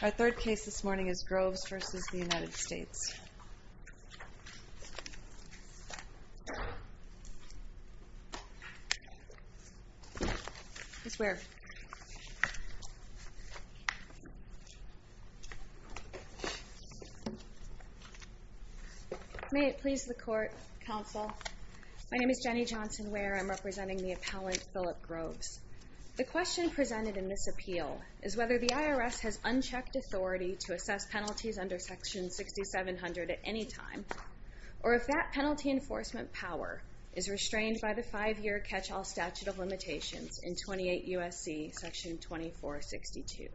Our third case this morning is Groves v. United States. May it please the Court, Counsel, my name is Jenny Johnson Ware, I'm representing the appellant Philip Groves. The question presented in this appeal is whether the IRS has unchecked authority to assess penalties under Section 6700 at any time, or if that penalty enforcement power is restrained by the five-year catch-all statute of limitations in 28 U.S.C. Section 2462.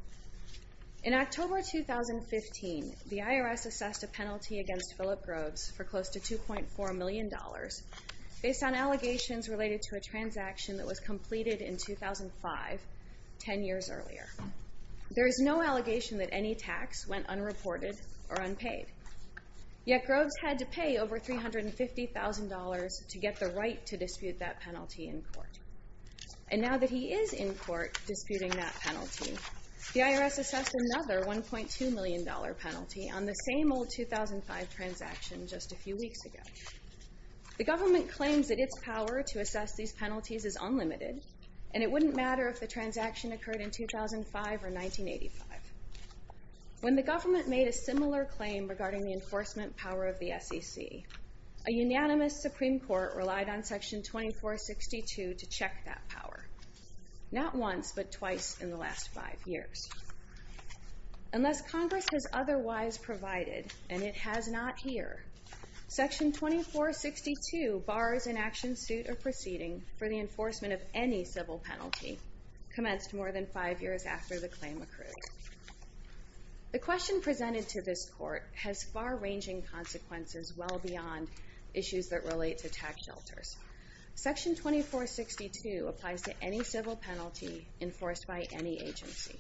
In October 2015, the IRS assessed a penalty against Philip Groves for close to $2.4 million based on allegations related to a transaction that was completed in 2005, ten years earlier. There is no allegation that any tax went unreported or unpaid, yet Groves had to pay over $350,000 to get the right to dispute that penalty in court. And now that he is in court disputing that penalty, the IRS assessed another $1.2 million penalty on the same old 2005 transaction just a few weeks ago. The government claims that its power to assess these penalties is unlimited, and it wouldn't matter if the transaction occurred in 2005 or 1985. When the government made a similar claim regarding the enforcement power of the SEC, a unanimous Supreme Court relied on Section 2462 to check that power. Not once, but twice in the last five years. Unless Congress has otherwise provided, and it has not here, Section 2462 bars an action suit or proceeding for the enforcement of any civil penalty commenced more than five years after the claim occurred. The question presented to this Court has far-ranging consequences well beyond issues that relate to tax shelters. Section 2462 applies to any civil penalty enforced by any agency.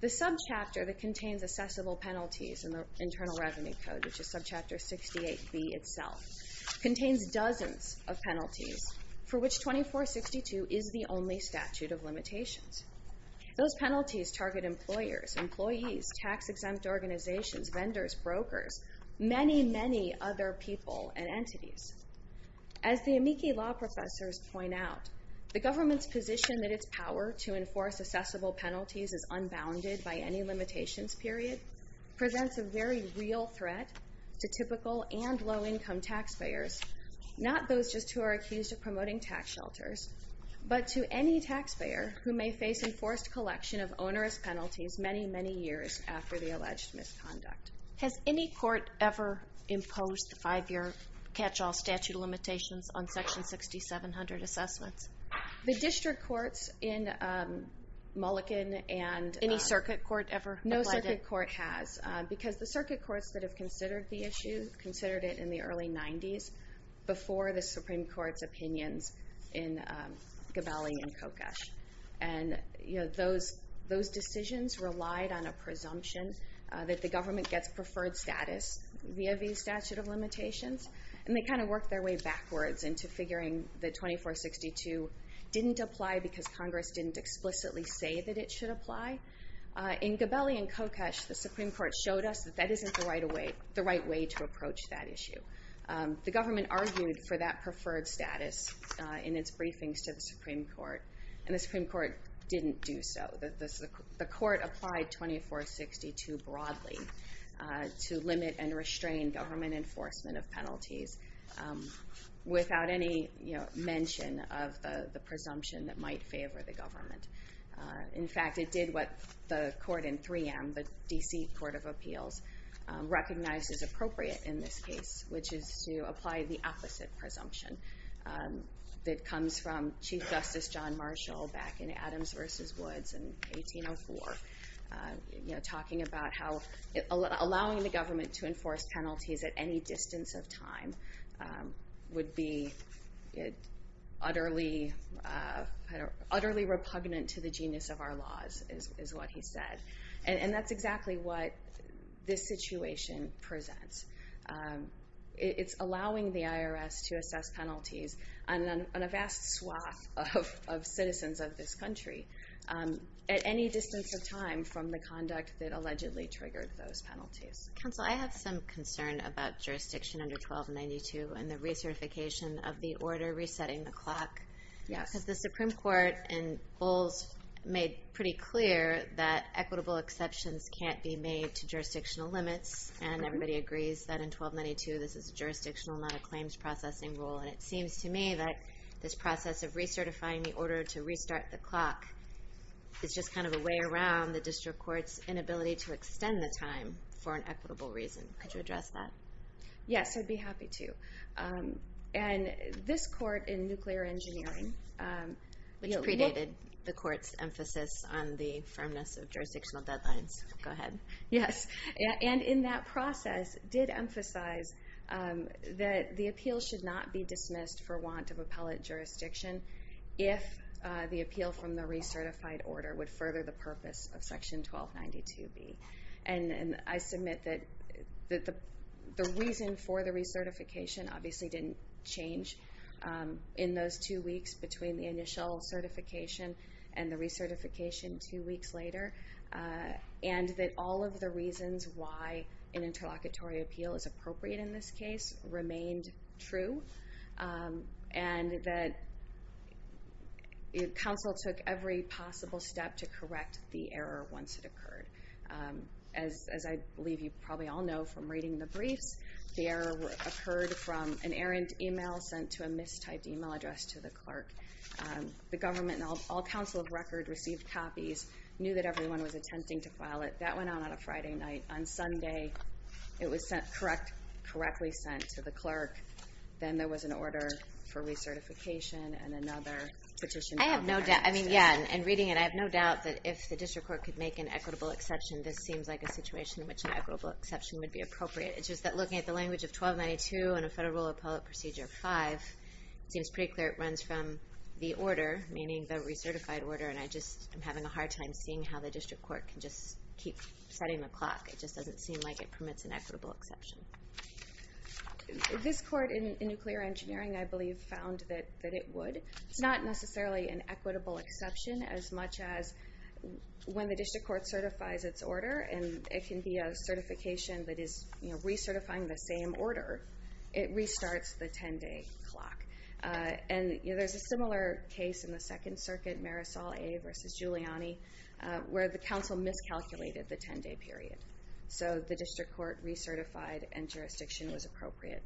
The subchapter that contains assessable penalties in the Internal Revenue Code, which is subchapter 68b itself, contains dozens of penalties, for which 2462 is the only statute of limitations. Those penalties target employers, employees, tax-exempt organizations, vendors, brokers, many, many other people and entities. As the amici law professors point out, the government's position that its power to enforce assessable penalties is unbounded by any limitations period presents a very real threat to typical and low-income taxpayers, not those just who are accused of promoting tax shelters, but to any taxpayer who may face enforced collection of onerous penalties many, many years after the alleged misconduct. Has any court ever imposed five-year catch-all statute of limitations on Section 6700 assessments? The district courts in Mulliken and... Any circuit court ever applied it? The district court has, because the circuit courts that have considered the issue considered it in the early 90s before the Supreme Court's opinions in Gabelli and Kokosch. And those decisions relied on a presumption that the government gets preferred status via these statute of limitations, and they kind of worked their way backwards into figuring that 2462 didn't apply because Congress didn't explicitly say that it should apply. In Gabelli and Kokosch, the Supreme Court showed us that that isn't the right way to approach that issue. The government argued for that preferred status in its briefings to the Supreme Court, and the Supreme Court didn't do so. The court applied 2462 broadly to limit and restrain government enforcement of penalties without any mention of the presumption that might favor the government. In fact, it did what the court in 3M, the D.C. Court of Appeals, recognized as appropriate in this case, which is to apply the opposite presumption that comes from Chief Justice John Marshall back in Adams v. Woods in 1804, talking about how allowing the government to enforce penalties at any distance of time would be utterly repugnant to the genus of our laws, is what he said. And that's exactly what this situation presents. It's allowing the IRS to assess penalties on a vast swath of citizens of this country at any distance of time from the conduct that allegedly triggered those penalties. Counsel, I have some concern about jurisdiction under 1292 and the recertification of the order resetting the clock. Because the Supreme Court in Bowles made pretty clear that equitable exceptions can't be made to jurisdictional limits, and everybody agrees that in 1292 this is a jurisdictional, not a claims processing rule, and it seems to me that this process of recertifying the order to restart the clock is just kind of a way around the district court's inability to extend the time for an equitable reason. Could you address that? Yes, I'd be happy to. And this court in nuclear engineering, which predated the court's emphasis on the firmness of jurisdictional deadlines, go ahead, yes. And in that process did emphasize that the appeal should not be dismissed for want of appellate jurisdiction if the appeal from the recertified order would further the purpose of section 1292B. And I submit that the reason for the recertification obviously didn't change in those two weeks between the initial certification and the recertification two weeks later, and that all of the reasons why an interlocutory appeal is appropriate in this case remained true, and that counsel took every possible step to correct the error once it occurred. As I believe you probably all know from reading the briefs, the error occurred from an errant email sent to a mistyped email address to the clerk. The government and all counsel of record received copies, knew that everyone was attempting to file it. That went on on a Friday night. On Sunday, it was sent correctly sent to the clerk. Then there was an order for recertification and another petition filed. I have no doubt. I mean, yeah. In reading it, I have no doubt that if the district court could make an equitable exception, this seems like a situation in which an equitable exception would be appropriate. It's just that looking at the language of 1292 and a federal rule appellate procedure 5, it seems pretty clear it runs from the order, meaning the recertified order, and I just am having a hard time seeing how the district court can just keep setting the clock. It just doesn't seem like it permits an equitable exception. This court in nuclear engineering, I believe, found that it would. It's not necessarily an equitable exception as much as when the district court certifies its order, and it can be a certification that is recertifying the same order, it restarts the 10-day clock. And there's a similar case in the Second Circuit, Marisol A. versus Giuliani, where the council miscalculated the 10-day period. So the district court recertified, and jurisdiction was appropriate.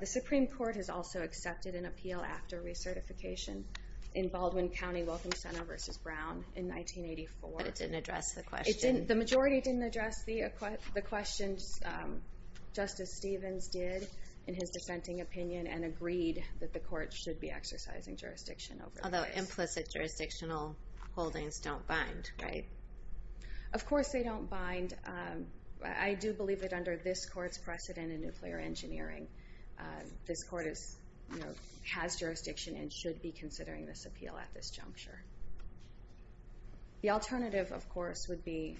The Supreme Court has also accepted an appeal after recertification in Baldwin County Welcome Center versus Brown in 1984. But it didn't address the question. The majority didn't address the question. Justice Stevens did, in his dissenting opinion, and agreed that the court should be exercising jurisdiction over this. Although implicit jurisdictional holdings don't bind, right? Of course they don't bind. I do believe that under this court's precedent in nuclear engineering, this court has jurisdiction and should be considering this appeal at this juncture. The alternative, of course, would be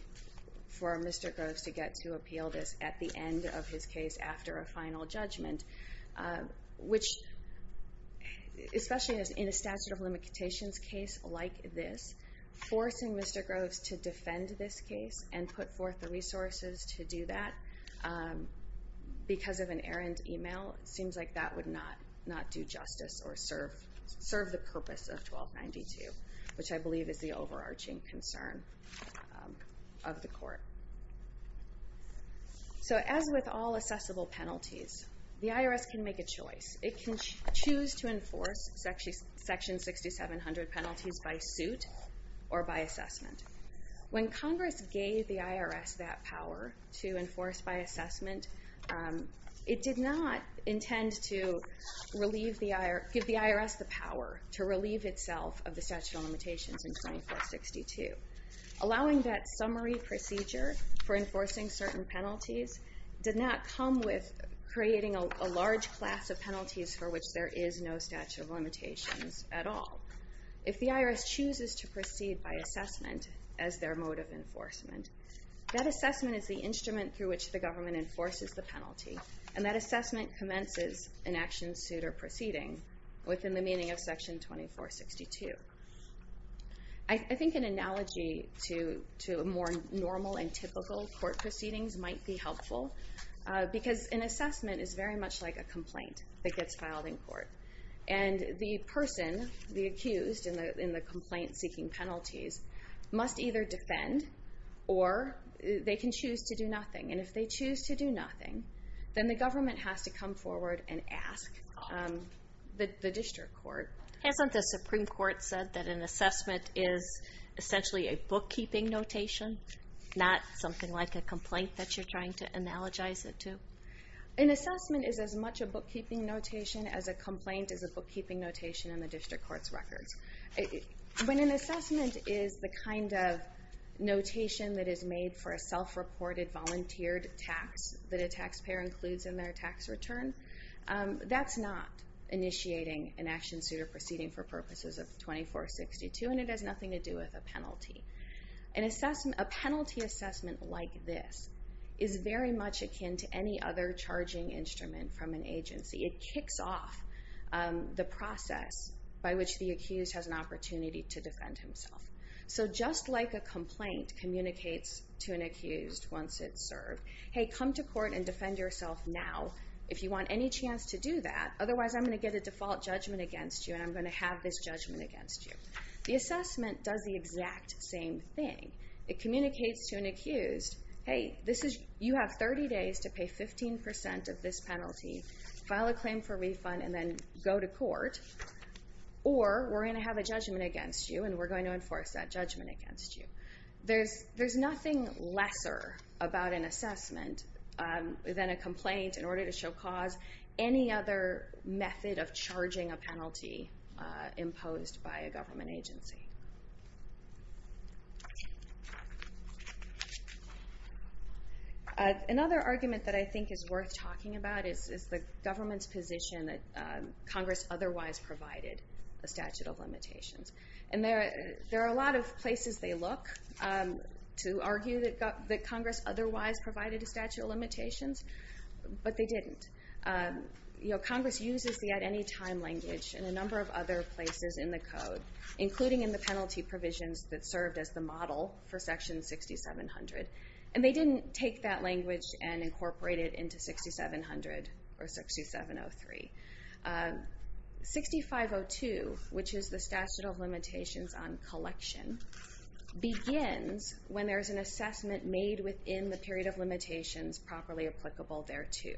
for Mr. Groves to get to appeal this at the end of his case after a final judgment, which, especially in a statute of limitations case like this, forcing Mr. Groves to defend this case and put forth the resources to do that because of an errant email seems like that would not do justice or serve the purpose of 1292, which I believe is the overarching concern of the court. So as with all assessable penalties, the IRS can make a choice. It can choose to enforce Section 6700 penalties by suit or by assessment. When Congress gave the IRS that power to enforce by assessment, it did not intend to give the IRS the power to relieve itself of the statute of limitations in 2462. Allowing that summary procedure for enforcing certain penalties did not come with creating a large class of penalties for which there is no statute of limitations at all. If the IRS chooses to proceed by assessment as their mode of enforcement, that assessment is the instrument through which the government enforces the penalty and that assessment commences an action, suit, or proceeding within the meaning of Section 2462. I think an analogy to more normal and typical court proceedings might be helpful because an assessment is very much like a complaint that gets filed in court. And the person, the accused in the complaint-seeking penalties, must either defend or they can choose to do nothing. And if they choose to do nothing, then the government has to come forward and ask the district court. Hasn't the Supreme Court said that an assessment is essentially a bookkeeping notation, not something like a complaint that you're trying to analogize it to? An assessment is as much a bookkeeping notation as a complaint is a bookkeeping notation in the district court's records. When an assessment is the kind of notation that is made for a self-reported, volunteered tax that a taxpayer includes in their tax return, that's not initiating an action, suit, or proceeding for purposes of 2462 and it has nothing to do with a penalty. A penalty assessment like this is very much akin to any other charging instrument from an agency. It kicks off the process by which the accused has an opportunity to defend himself. So just like a complaint communicates to an accused once it's served, hey, come to court and defend yourself now if you want any chance to do that, otherwise I'm going to get a default judgment against you and I'm going to have this judgment against you. The assessment does the exact same thing. It communicates to an accused, hey, you have 30 days to pay 15% of this penalty, file a claim for refund, and then go to court, or we're going to have a judgment against you and we're going to enforce that judgment against you. There's nothing lesser about an assessment than a complaint in order to show cause any other method of charging a penalty imposed by a government agency. Another argument that I think is worth talking about is the government's position that Congress otherwise provided a statute of limitations. And there are a lot of places they look to argue that Congress otherwise provided a statute of limitations, but they didn't. Congress uses the at any time language in a number of other places in the code, including in the penalty provisions that served as the model for section 6700. And they didn't take that language and incorporate it into 6700 or 6703. 6502, which is the statute of limitations on collection, begins when there is an assessment made within the period of limitations properly applicable thereto.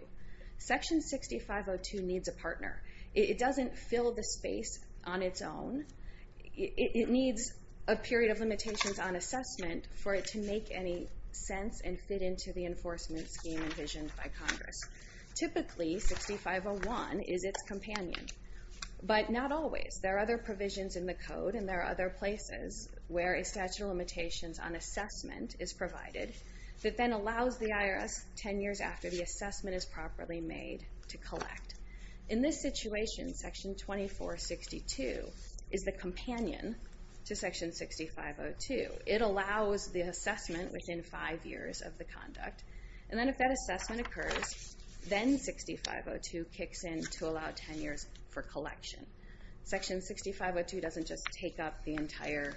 Section 6502 needs a partner. It doesn't fill the space on its own. It needs a period of limitations on assessment for it to make any sense and fit into the enforcement scheme envisioned by Congress. Typically 6501 is its companion. But not always. There are other provisions in the code and there are other places where a statute of then allows the IRS 10 years after the assessment is properly made to collect. In this situation, section 2462 is the companion to section 6502. It allows the assessment within five years of the conduct. And then if that assessment occurs, then 6502 kicks in to allow 10 years for collection. Section 6502 doesn't just take up the entire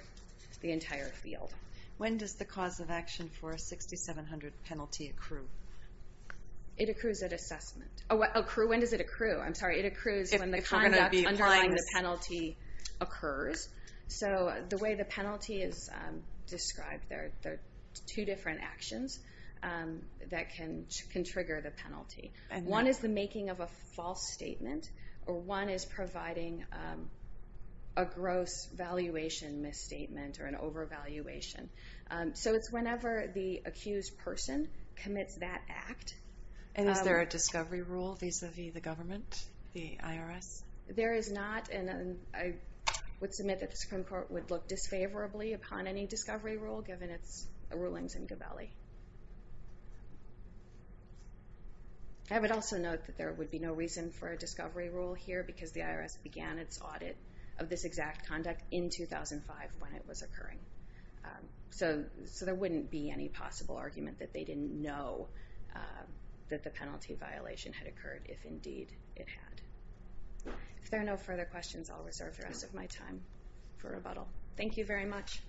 field. When does the cause of action for a 6700 penalty accrue? It accrues at assessment. When does it accrue? I'm sorry. It accrues when the conduct underlying the penalty occurs. So the way the penalty is described, there are two different actions that can trigger the penalty. One is the making of a false statement or one is providing a gross valuation misstatement or an overvaluation. So it's whenever the accused person commits that act. And is there a discovery rule vis-a-vis the government, the IRS? There is not and I would submit that the Supreme Court would look disfavorably upon any discovery rule given its rulings in Gabelli. I would also note that there would be no reason for a discovery rule here because the IRS began its audit of this exact conduct in 2005 when it was occurring. So there wouldn't be any possible argument that they didn't know that the penalty violation had occurred if indeed it had. If there are no further questions, I'll reserve the rest of my time for rebuttal. Thank you very much.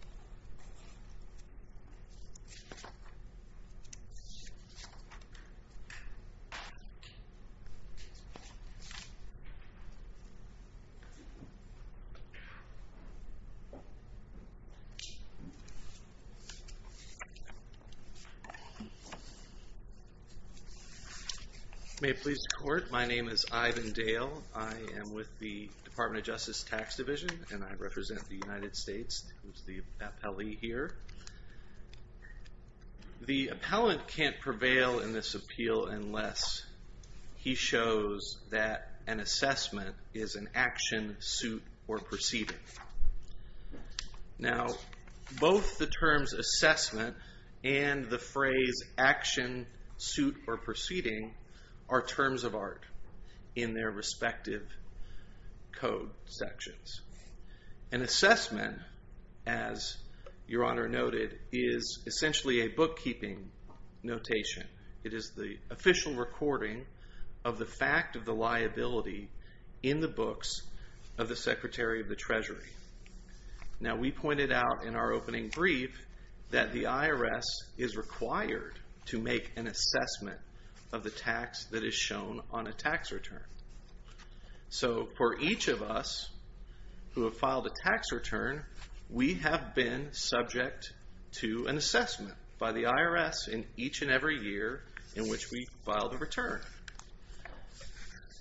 May it please the Court. My name is Ivan Dale. I am with the Department of Justice Tax Division and I represent the United States as the appellee here. The appellant can't prevail in this appeal unless he shows that an assessment is an action, suit, or proceeding. Now both the terms assessment and the phrase action, suit, or proceeding are terms of art in their respective code sections. An assessment, as Your Honor noted, is essentially a bookkeeping notation. It is the official recording of the fact of the liability in the books of the Secretary of the Treasury. Now we pointed out in our opening brief that the IRS is required to make an assessment of the tax that is shown on a tax return. So for each of us who have filed a tax return, we have been subject to an assessment by the IRS in each and every year in which we filed a return.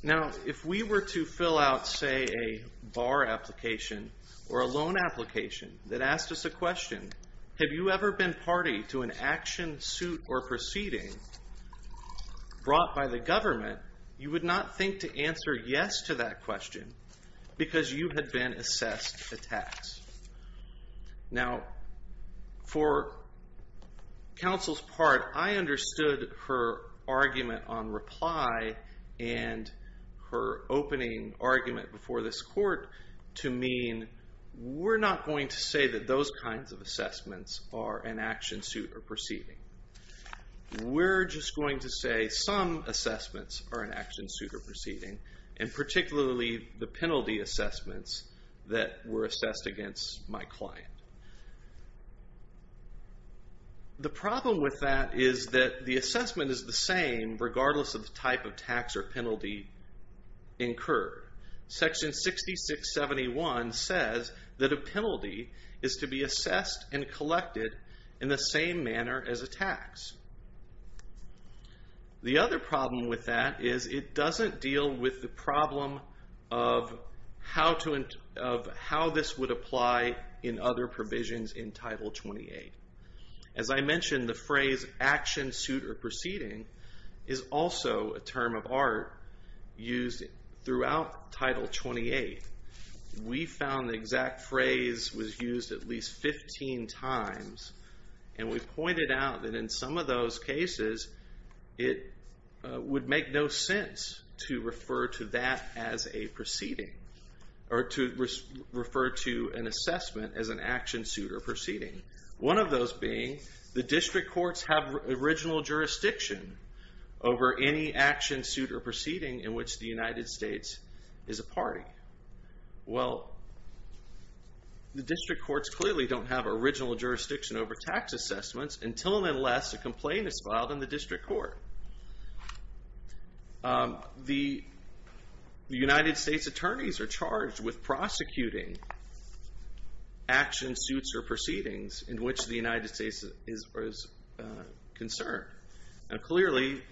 Now if we were to fill out, say, a bar application or a loan application that asked us a question, have you ever been party to an action, suit, or proceeding brought by the government, you would not think to answer yes to that question because you had been assessed a tax. Now for counsel's part, I understood her argument on reply and her opening argument before this court to mean we're not going to say that those kinds of assessments are an action, suit, or proceeding. We're just going to say some assessments are an action, suit, or proceeding, and particularly the penalty assessments that were assessed against my client. The problem with that is that the assessment is the same regardless of the type of tax or penalty incurred. Section 6671 says that a penalty is to be assessed and collected in the same manner as a tax. The other problem with that is it doesn't deal with the problem of how this would apply in other provisions in Title 28. As I mentioned, the phrase action, suit, or proceeding is also a term of art used throughout Title 28. We found the exact phrase was used at least 15 times, and we pointed out that in some of those cases, it would make no sense to refer to that as a proceeding or to refer to an assessment as an action, suit, or proceeding. One of those being the district courts have original jurisdiction over any action, suit, or proceeding in which the United States is a party. Well, the district courts clearly don't have original jurisdiction over tax assessments until and unless a complaint is filed in the district court. The United States attorneys are charged with prosecuting action, suits, or proceedings in which the United States is concerned. Now clearly,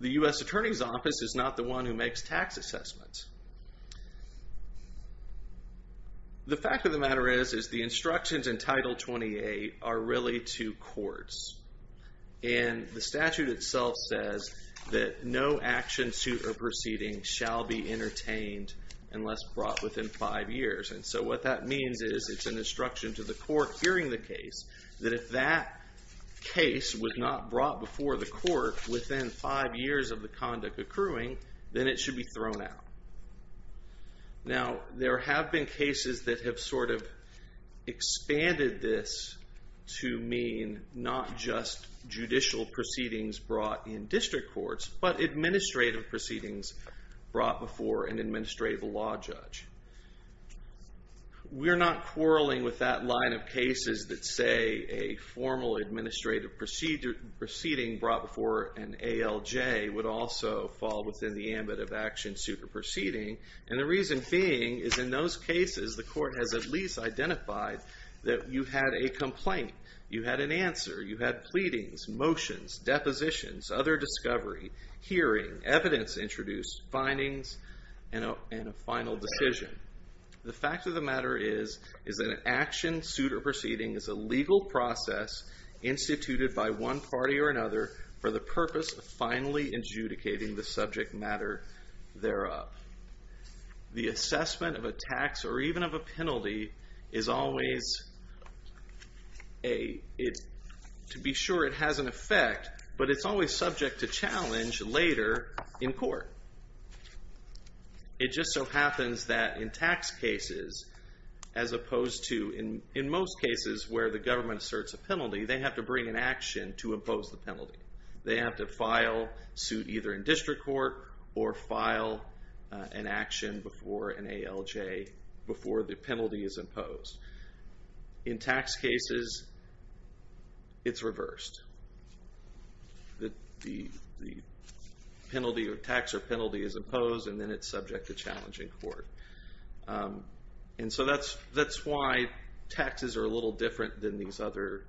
the US Attorney's Office is not the one who makes tax assessments. The fact of the matter is, is the instructions in Title 28 are really to courts, and the statute itself says that no action, suit, or proceeding shall be entertained unless brought within five years. And so what that means is it's an instruction to the court hearing the case that if that case was not brought before the court within five years of the conduct accruing, then it should be thrown out. Now there have been cases that have sort of expanded this to mean not just judicial proceedings brought in district courts, but administrative proceedings brought before an administrative law judge. We're not quarreling with that line of cases that say a formal administrative proceeding brought before an ALJ would also fall within the ambit of action, suit, or proceeding. And the reason being is in those cases, the court has at least identified that you had a complaint, you had an answer, you had pleadings, motions, depositions, other discovery, hearing, evidence introduced, findings, and a final decision. The fact of the matter is, is that an action, suit, or proceeding is a legal process instituted by one party or another for the purpose of finally adjudicating the subject matter thereof. The assessment of a tax or even of a penalty is always, to be sure it has an effect, but it's always subject to challenge later in court. It just so happens that in tax cases, as opposed to in most cases where the government asserts a penalty, they have to bring an action to impose the penalty. They have to file suit either in district court or file an action before an ALJ, before the penalty is imposed. In tax cases, it's reversed. The penalty or tax or penalty is imposed and then it's subject to challenge in court. That's why taxes are a little different than these other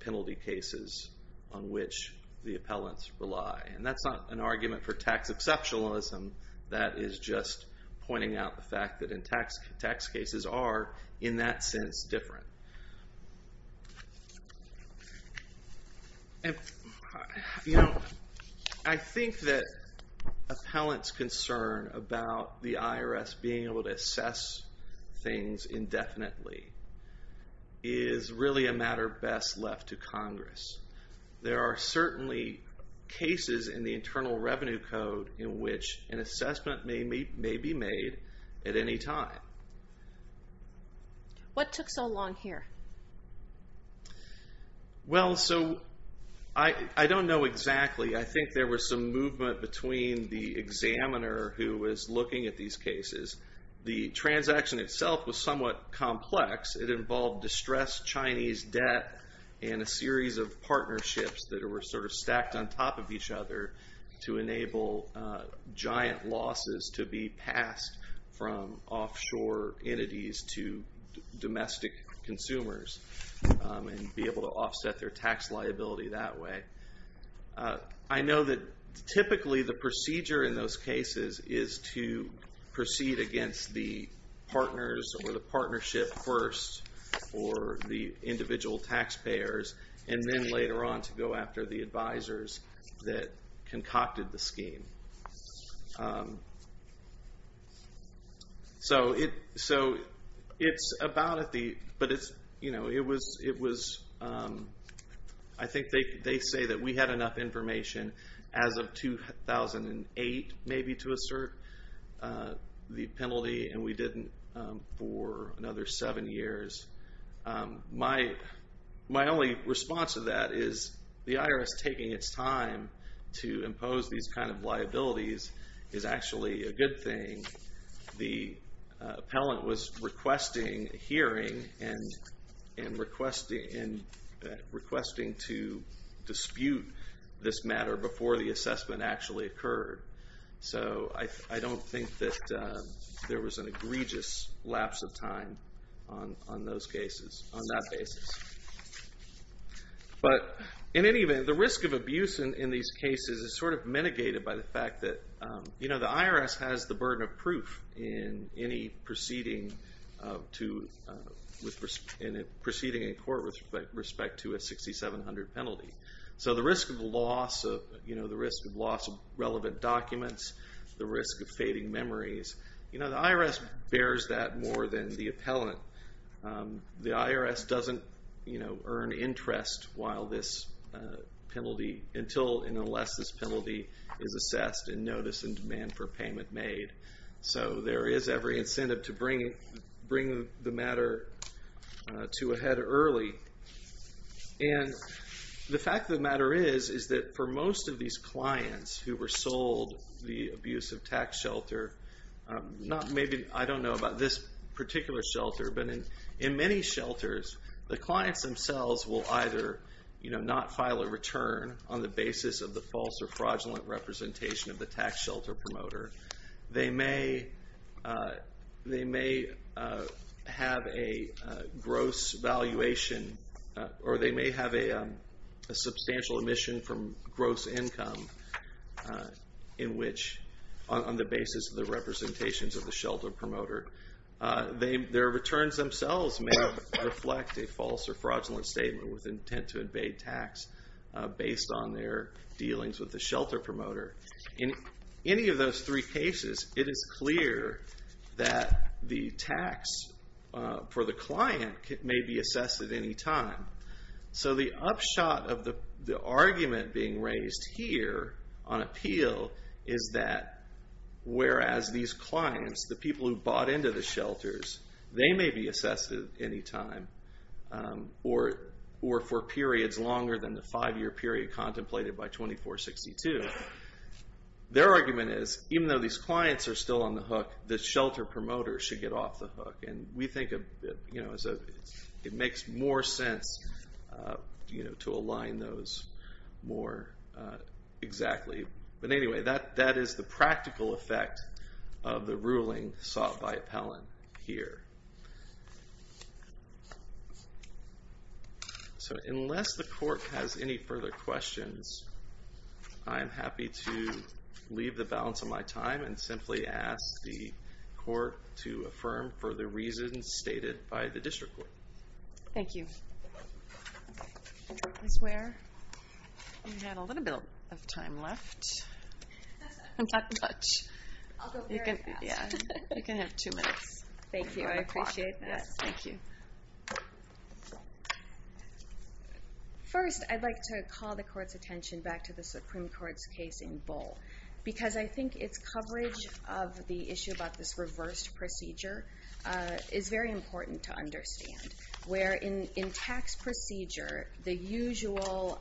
penalty cases on which the appellants rely. That's not an argument for tax exceptionalism. That is just pointing out the fact that in tax cases are, in that sense, different. You know, I think that appellants' concern about the IRS being able to assess things indefinitely is really a matter best left to Congress. There are certainly cases in the Internal Revenue Code in which an assessment may be made at any time. What took so long here? Well, so, I don't know exactly. I think there was some movement between the examiner who was looking at these cases. The transaction itself was somewhat complex. It involved distressed Chinese debt and a series of partnerships that were sort of stacked on top of each other to enable giant losses to be passed from offshore entities to domestic consumers and be able to offset their tax liability that way. I know that typically the procedure in those cases is to proceed against the partners or the individual taxpayers, and then later on to go after the advisors that concocted the scheme. I think they say that we had enough information as of 2008, maybe, to assert the penalty, and we didn't for another seven years. My only response to that is the IRS taking its time to impose these kind of liabilities is actually a good thing. The appellant was requesting a hearing and requesting to dispute this matter before the assessment actually occurred. So, I don't think that there was an egregious lapse of time on that basis. But, in any event, the risk of abuse in these cases is sort of mitigated by the fact that the IRS has the burden of proof in any proceeding in court with respect to a 6700 penalty. So, the risk of loss of relevant documents, the risk of fading memories, the IRS bears that more than the appellant. The IRS doesn't earn interest while this penalty, until and unless this penalty is assessed and notice and demand for payment made. So, there is every incentive to bring the matter to a head early. And the fact of the matter is, is that for most of these clients who were sold the abusive tax shelter, not maybe, I don't know about this particular shelter, but in many shelters, the clients themselves will either not file a return on the basis of the false or fraudulent representation of the tax shelter promoter. They may have a gross valuation, or they may have a substantial emission from gross income on the basis of the representations of the shelter promoter. Their returns themselves may reflect a false or fraudulent statement with intent to evade tax based on their dealings with the shelter promoter. In any of those three cases, it is clear that the tax for the client may be assessed at any time. So, the upshot of the argument being raised here on appeal is that whereas these clients, the people who bought into the shelters, they may be assessed at any time or for periods longer than the five year period contemplated by 2462. Their argument is, even though these clients are still on the hook, the shelter promoter should get off the hook. And we think it makes more sense to align those more exactly. But anyway, that is the practical effect of the ruling sought by appellant here. So, unless the court has any further questions, I am happy to leave the balance of my time and simply ask the court to affirm for the reasons stated by the district court. Thank you. I swear we have a little bit of time left. I'm talking much. I'll go very fast. You can have two minutes. Thank you. I appreciate that. Thank you. First, I'd like to call the court's attention back to the Supreme Court's case in Bull. Because I think its coverage of the issue about this reversed procedure is very important to understand. In tax procedure, the usual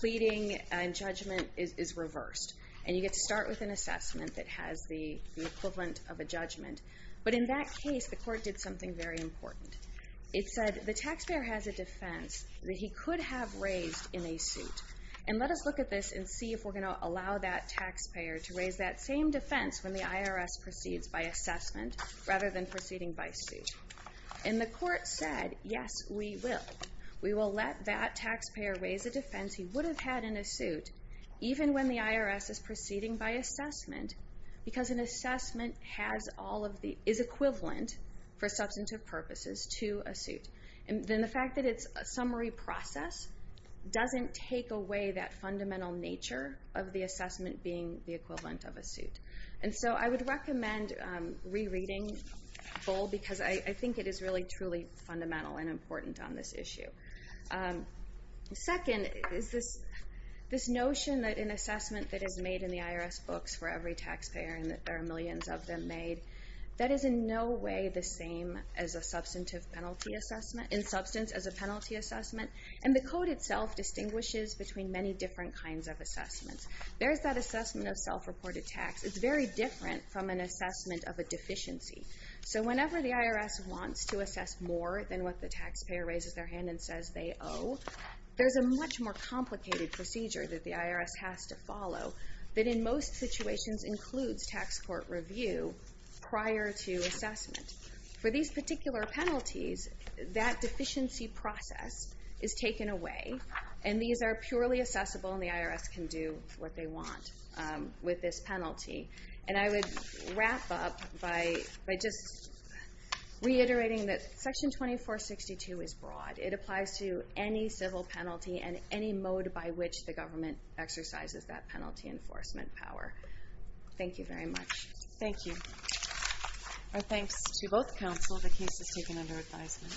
pleading and judgment is reversed. And you get to start with an assessment that has the equivalent of a judgment. But in that case, the court did something very important. It said the taxpayer has a defense that he could have raised in a suit. And let us look at this and see if we're going to allow that taxpayer to raise that same defense when the IRS proceeds by assessment rather than proceeding by suit. And the court said, yes, we will. We will let that taxpayer raise a defense he would have had in a suit even when the IRS is proceeding by assessment because an assessment is equivalent for substantive purposes to a suit. And the fact that it's a summary process doesn't take away that fundamental nature of the assessment being the equivalent of a suit. And so I would recommend re-reading Bull because I think it is really, truly fundamental and important on this issue. Second is this notion that an assessment that is made in the IRS books for every taxpayer and that there are millions of them made, that is in no way the same in substance as a penalty assessment. And the code itself distinguishes between many different kinds of assessments. There's that assessment of self-reported tax. It's very different from an assessment of a deficiency. So whenever the IRS wants to assess more than what the taxpayer raises their hand and says they owe, there's a much more complicated procedure that the IRS has to follow that in most situations includes tax court review prior to assessment. For these particular penalties, that deficiency process is taken away, and these are purely assessable, and the IRS can do what they want with this penalty. And I would wrap up by just reiterating that Section 2462 is broad. It applies to any civil penalty and any mode by which the government exercises that penalty enforcement power. Thank you very much. Thank you. Our thanks to both counsel. The case is taken under advisement.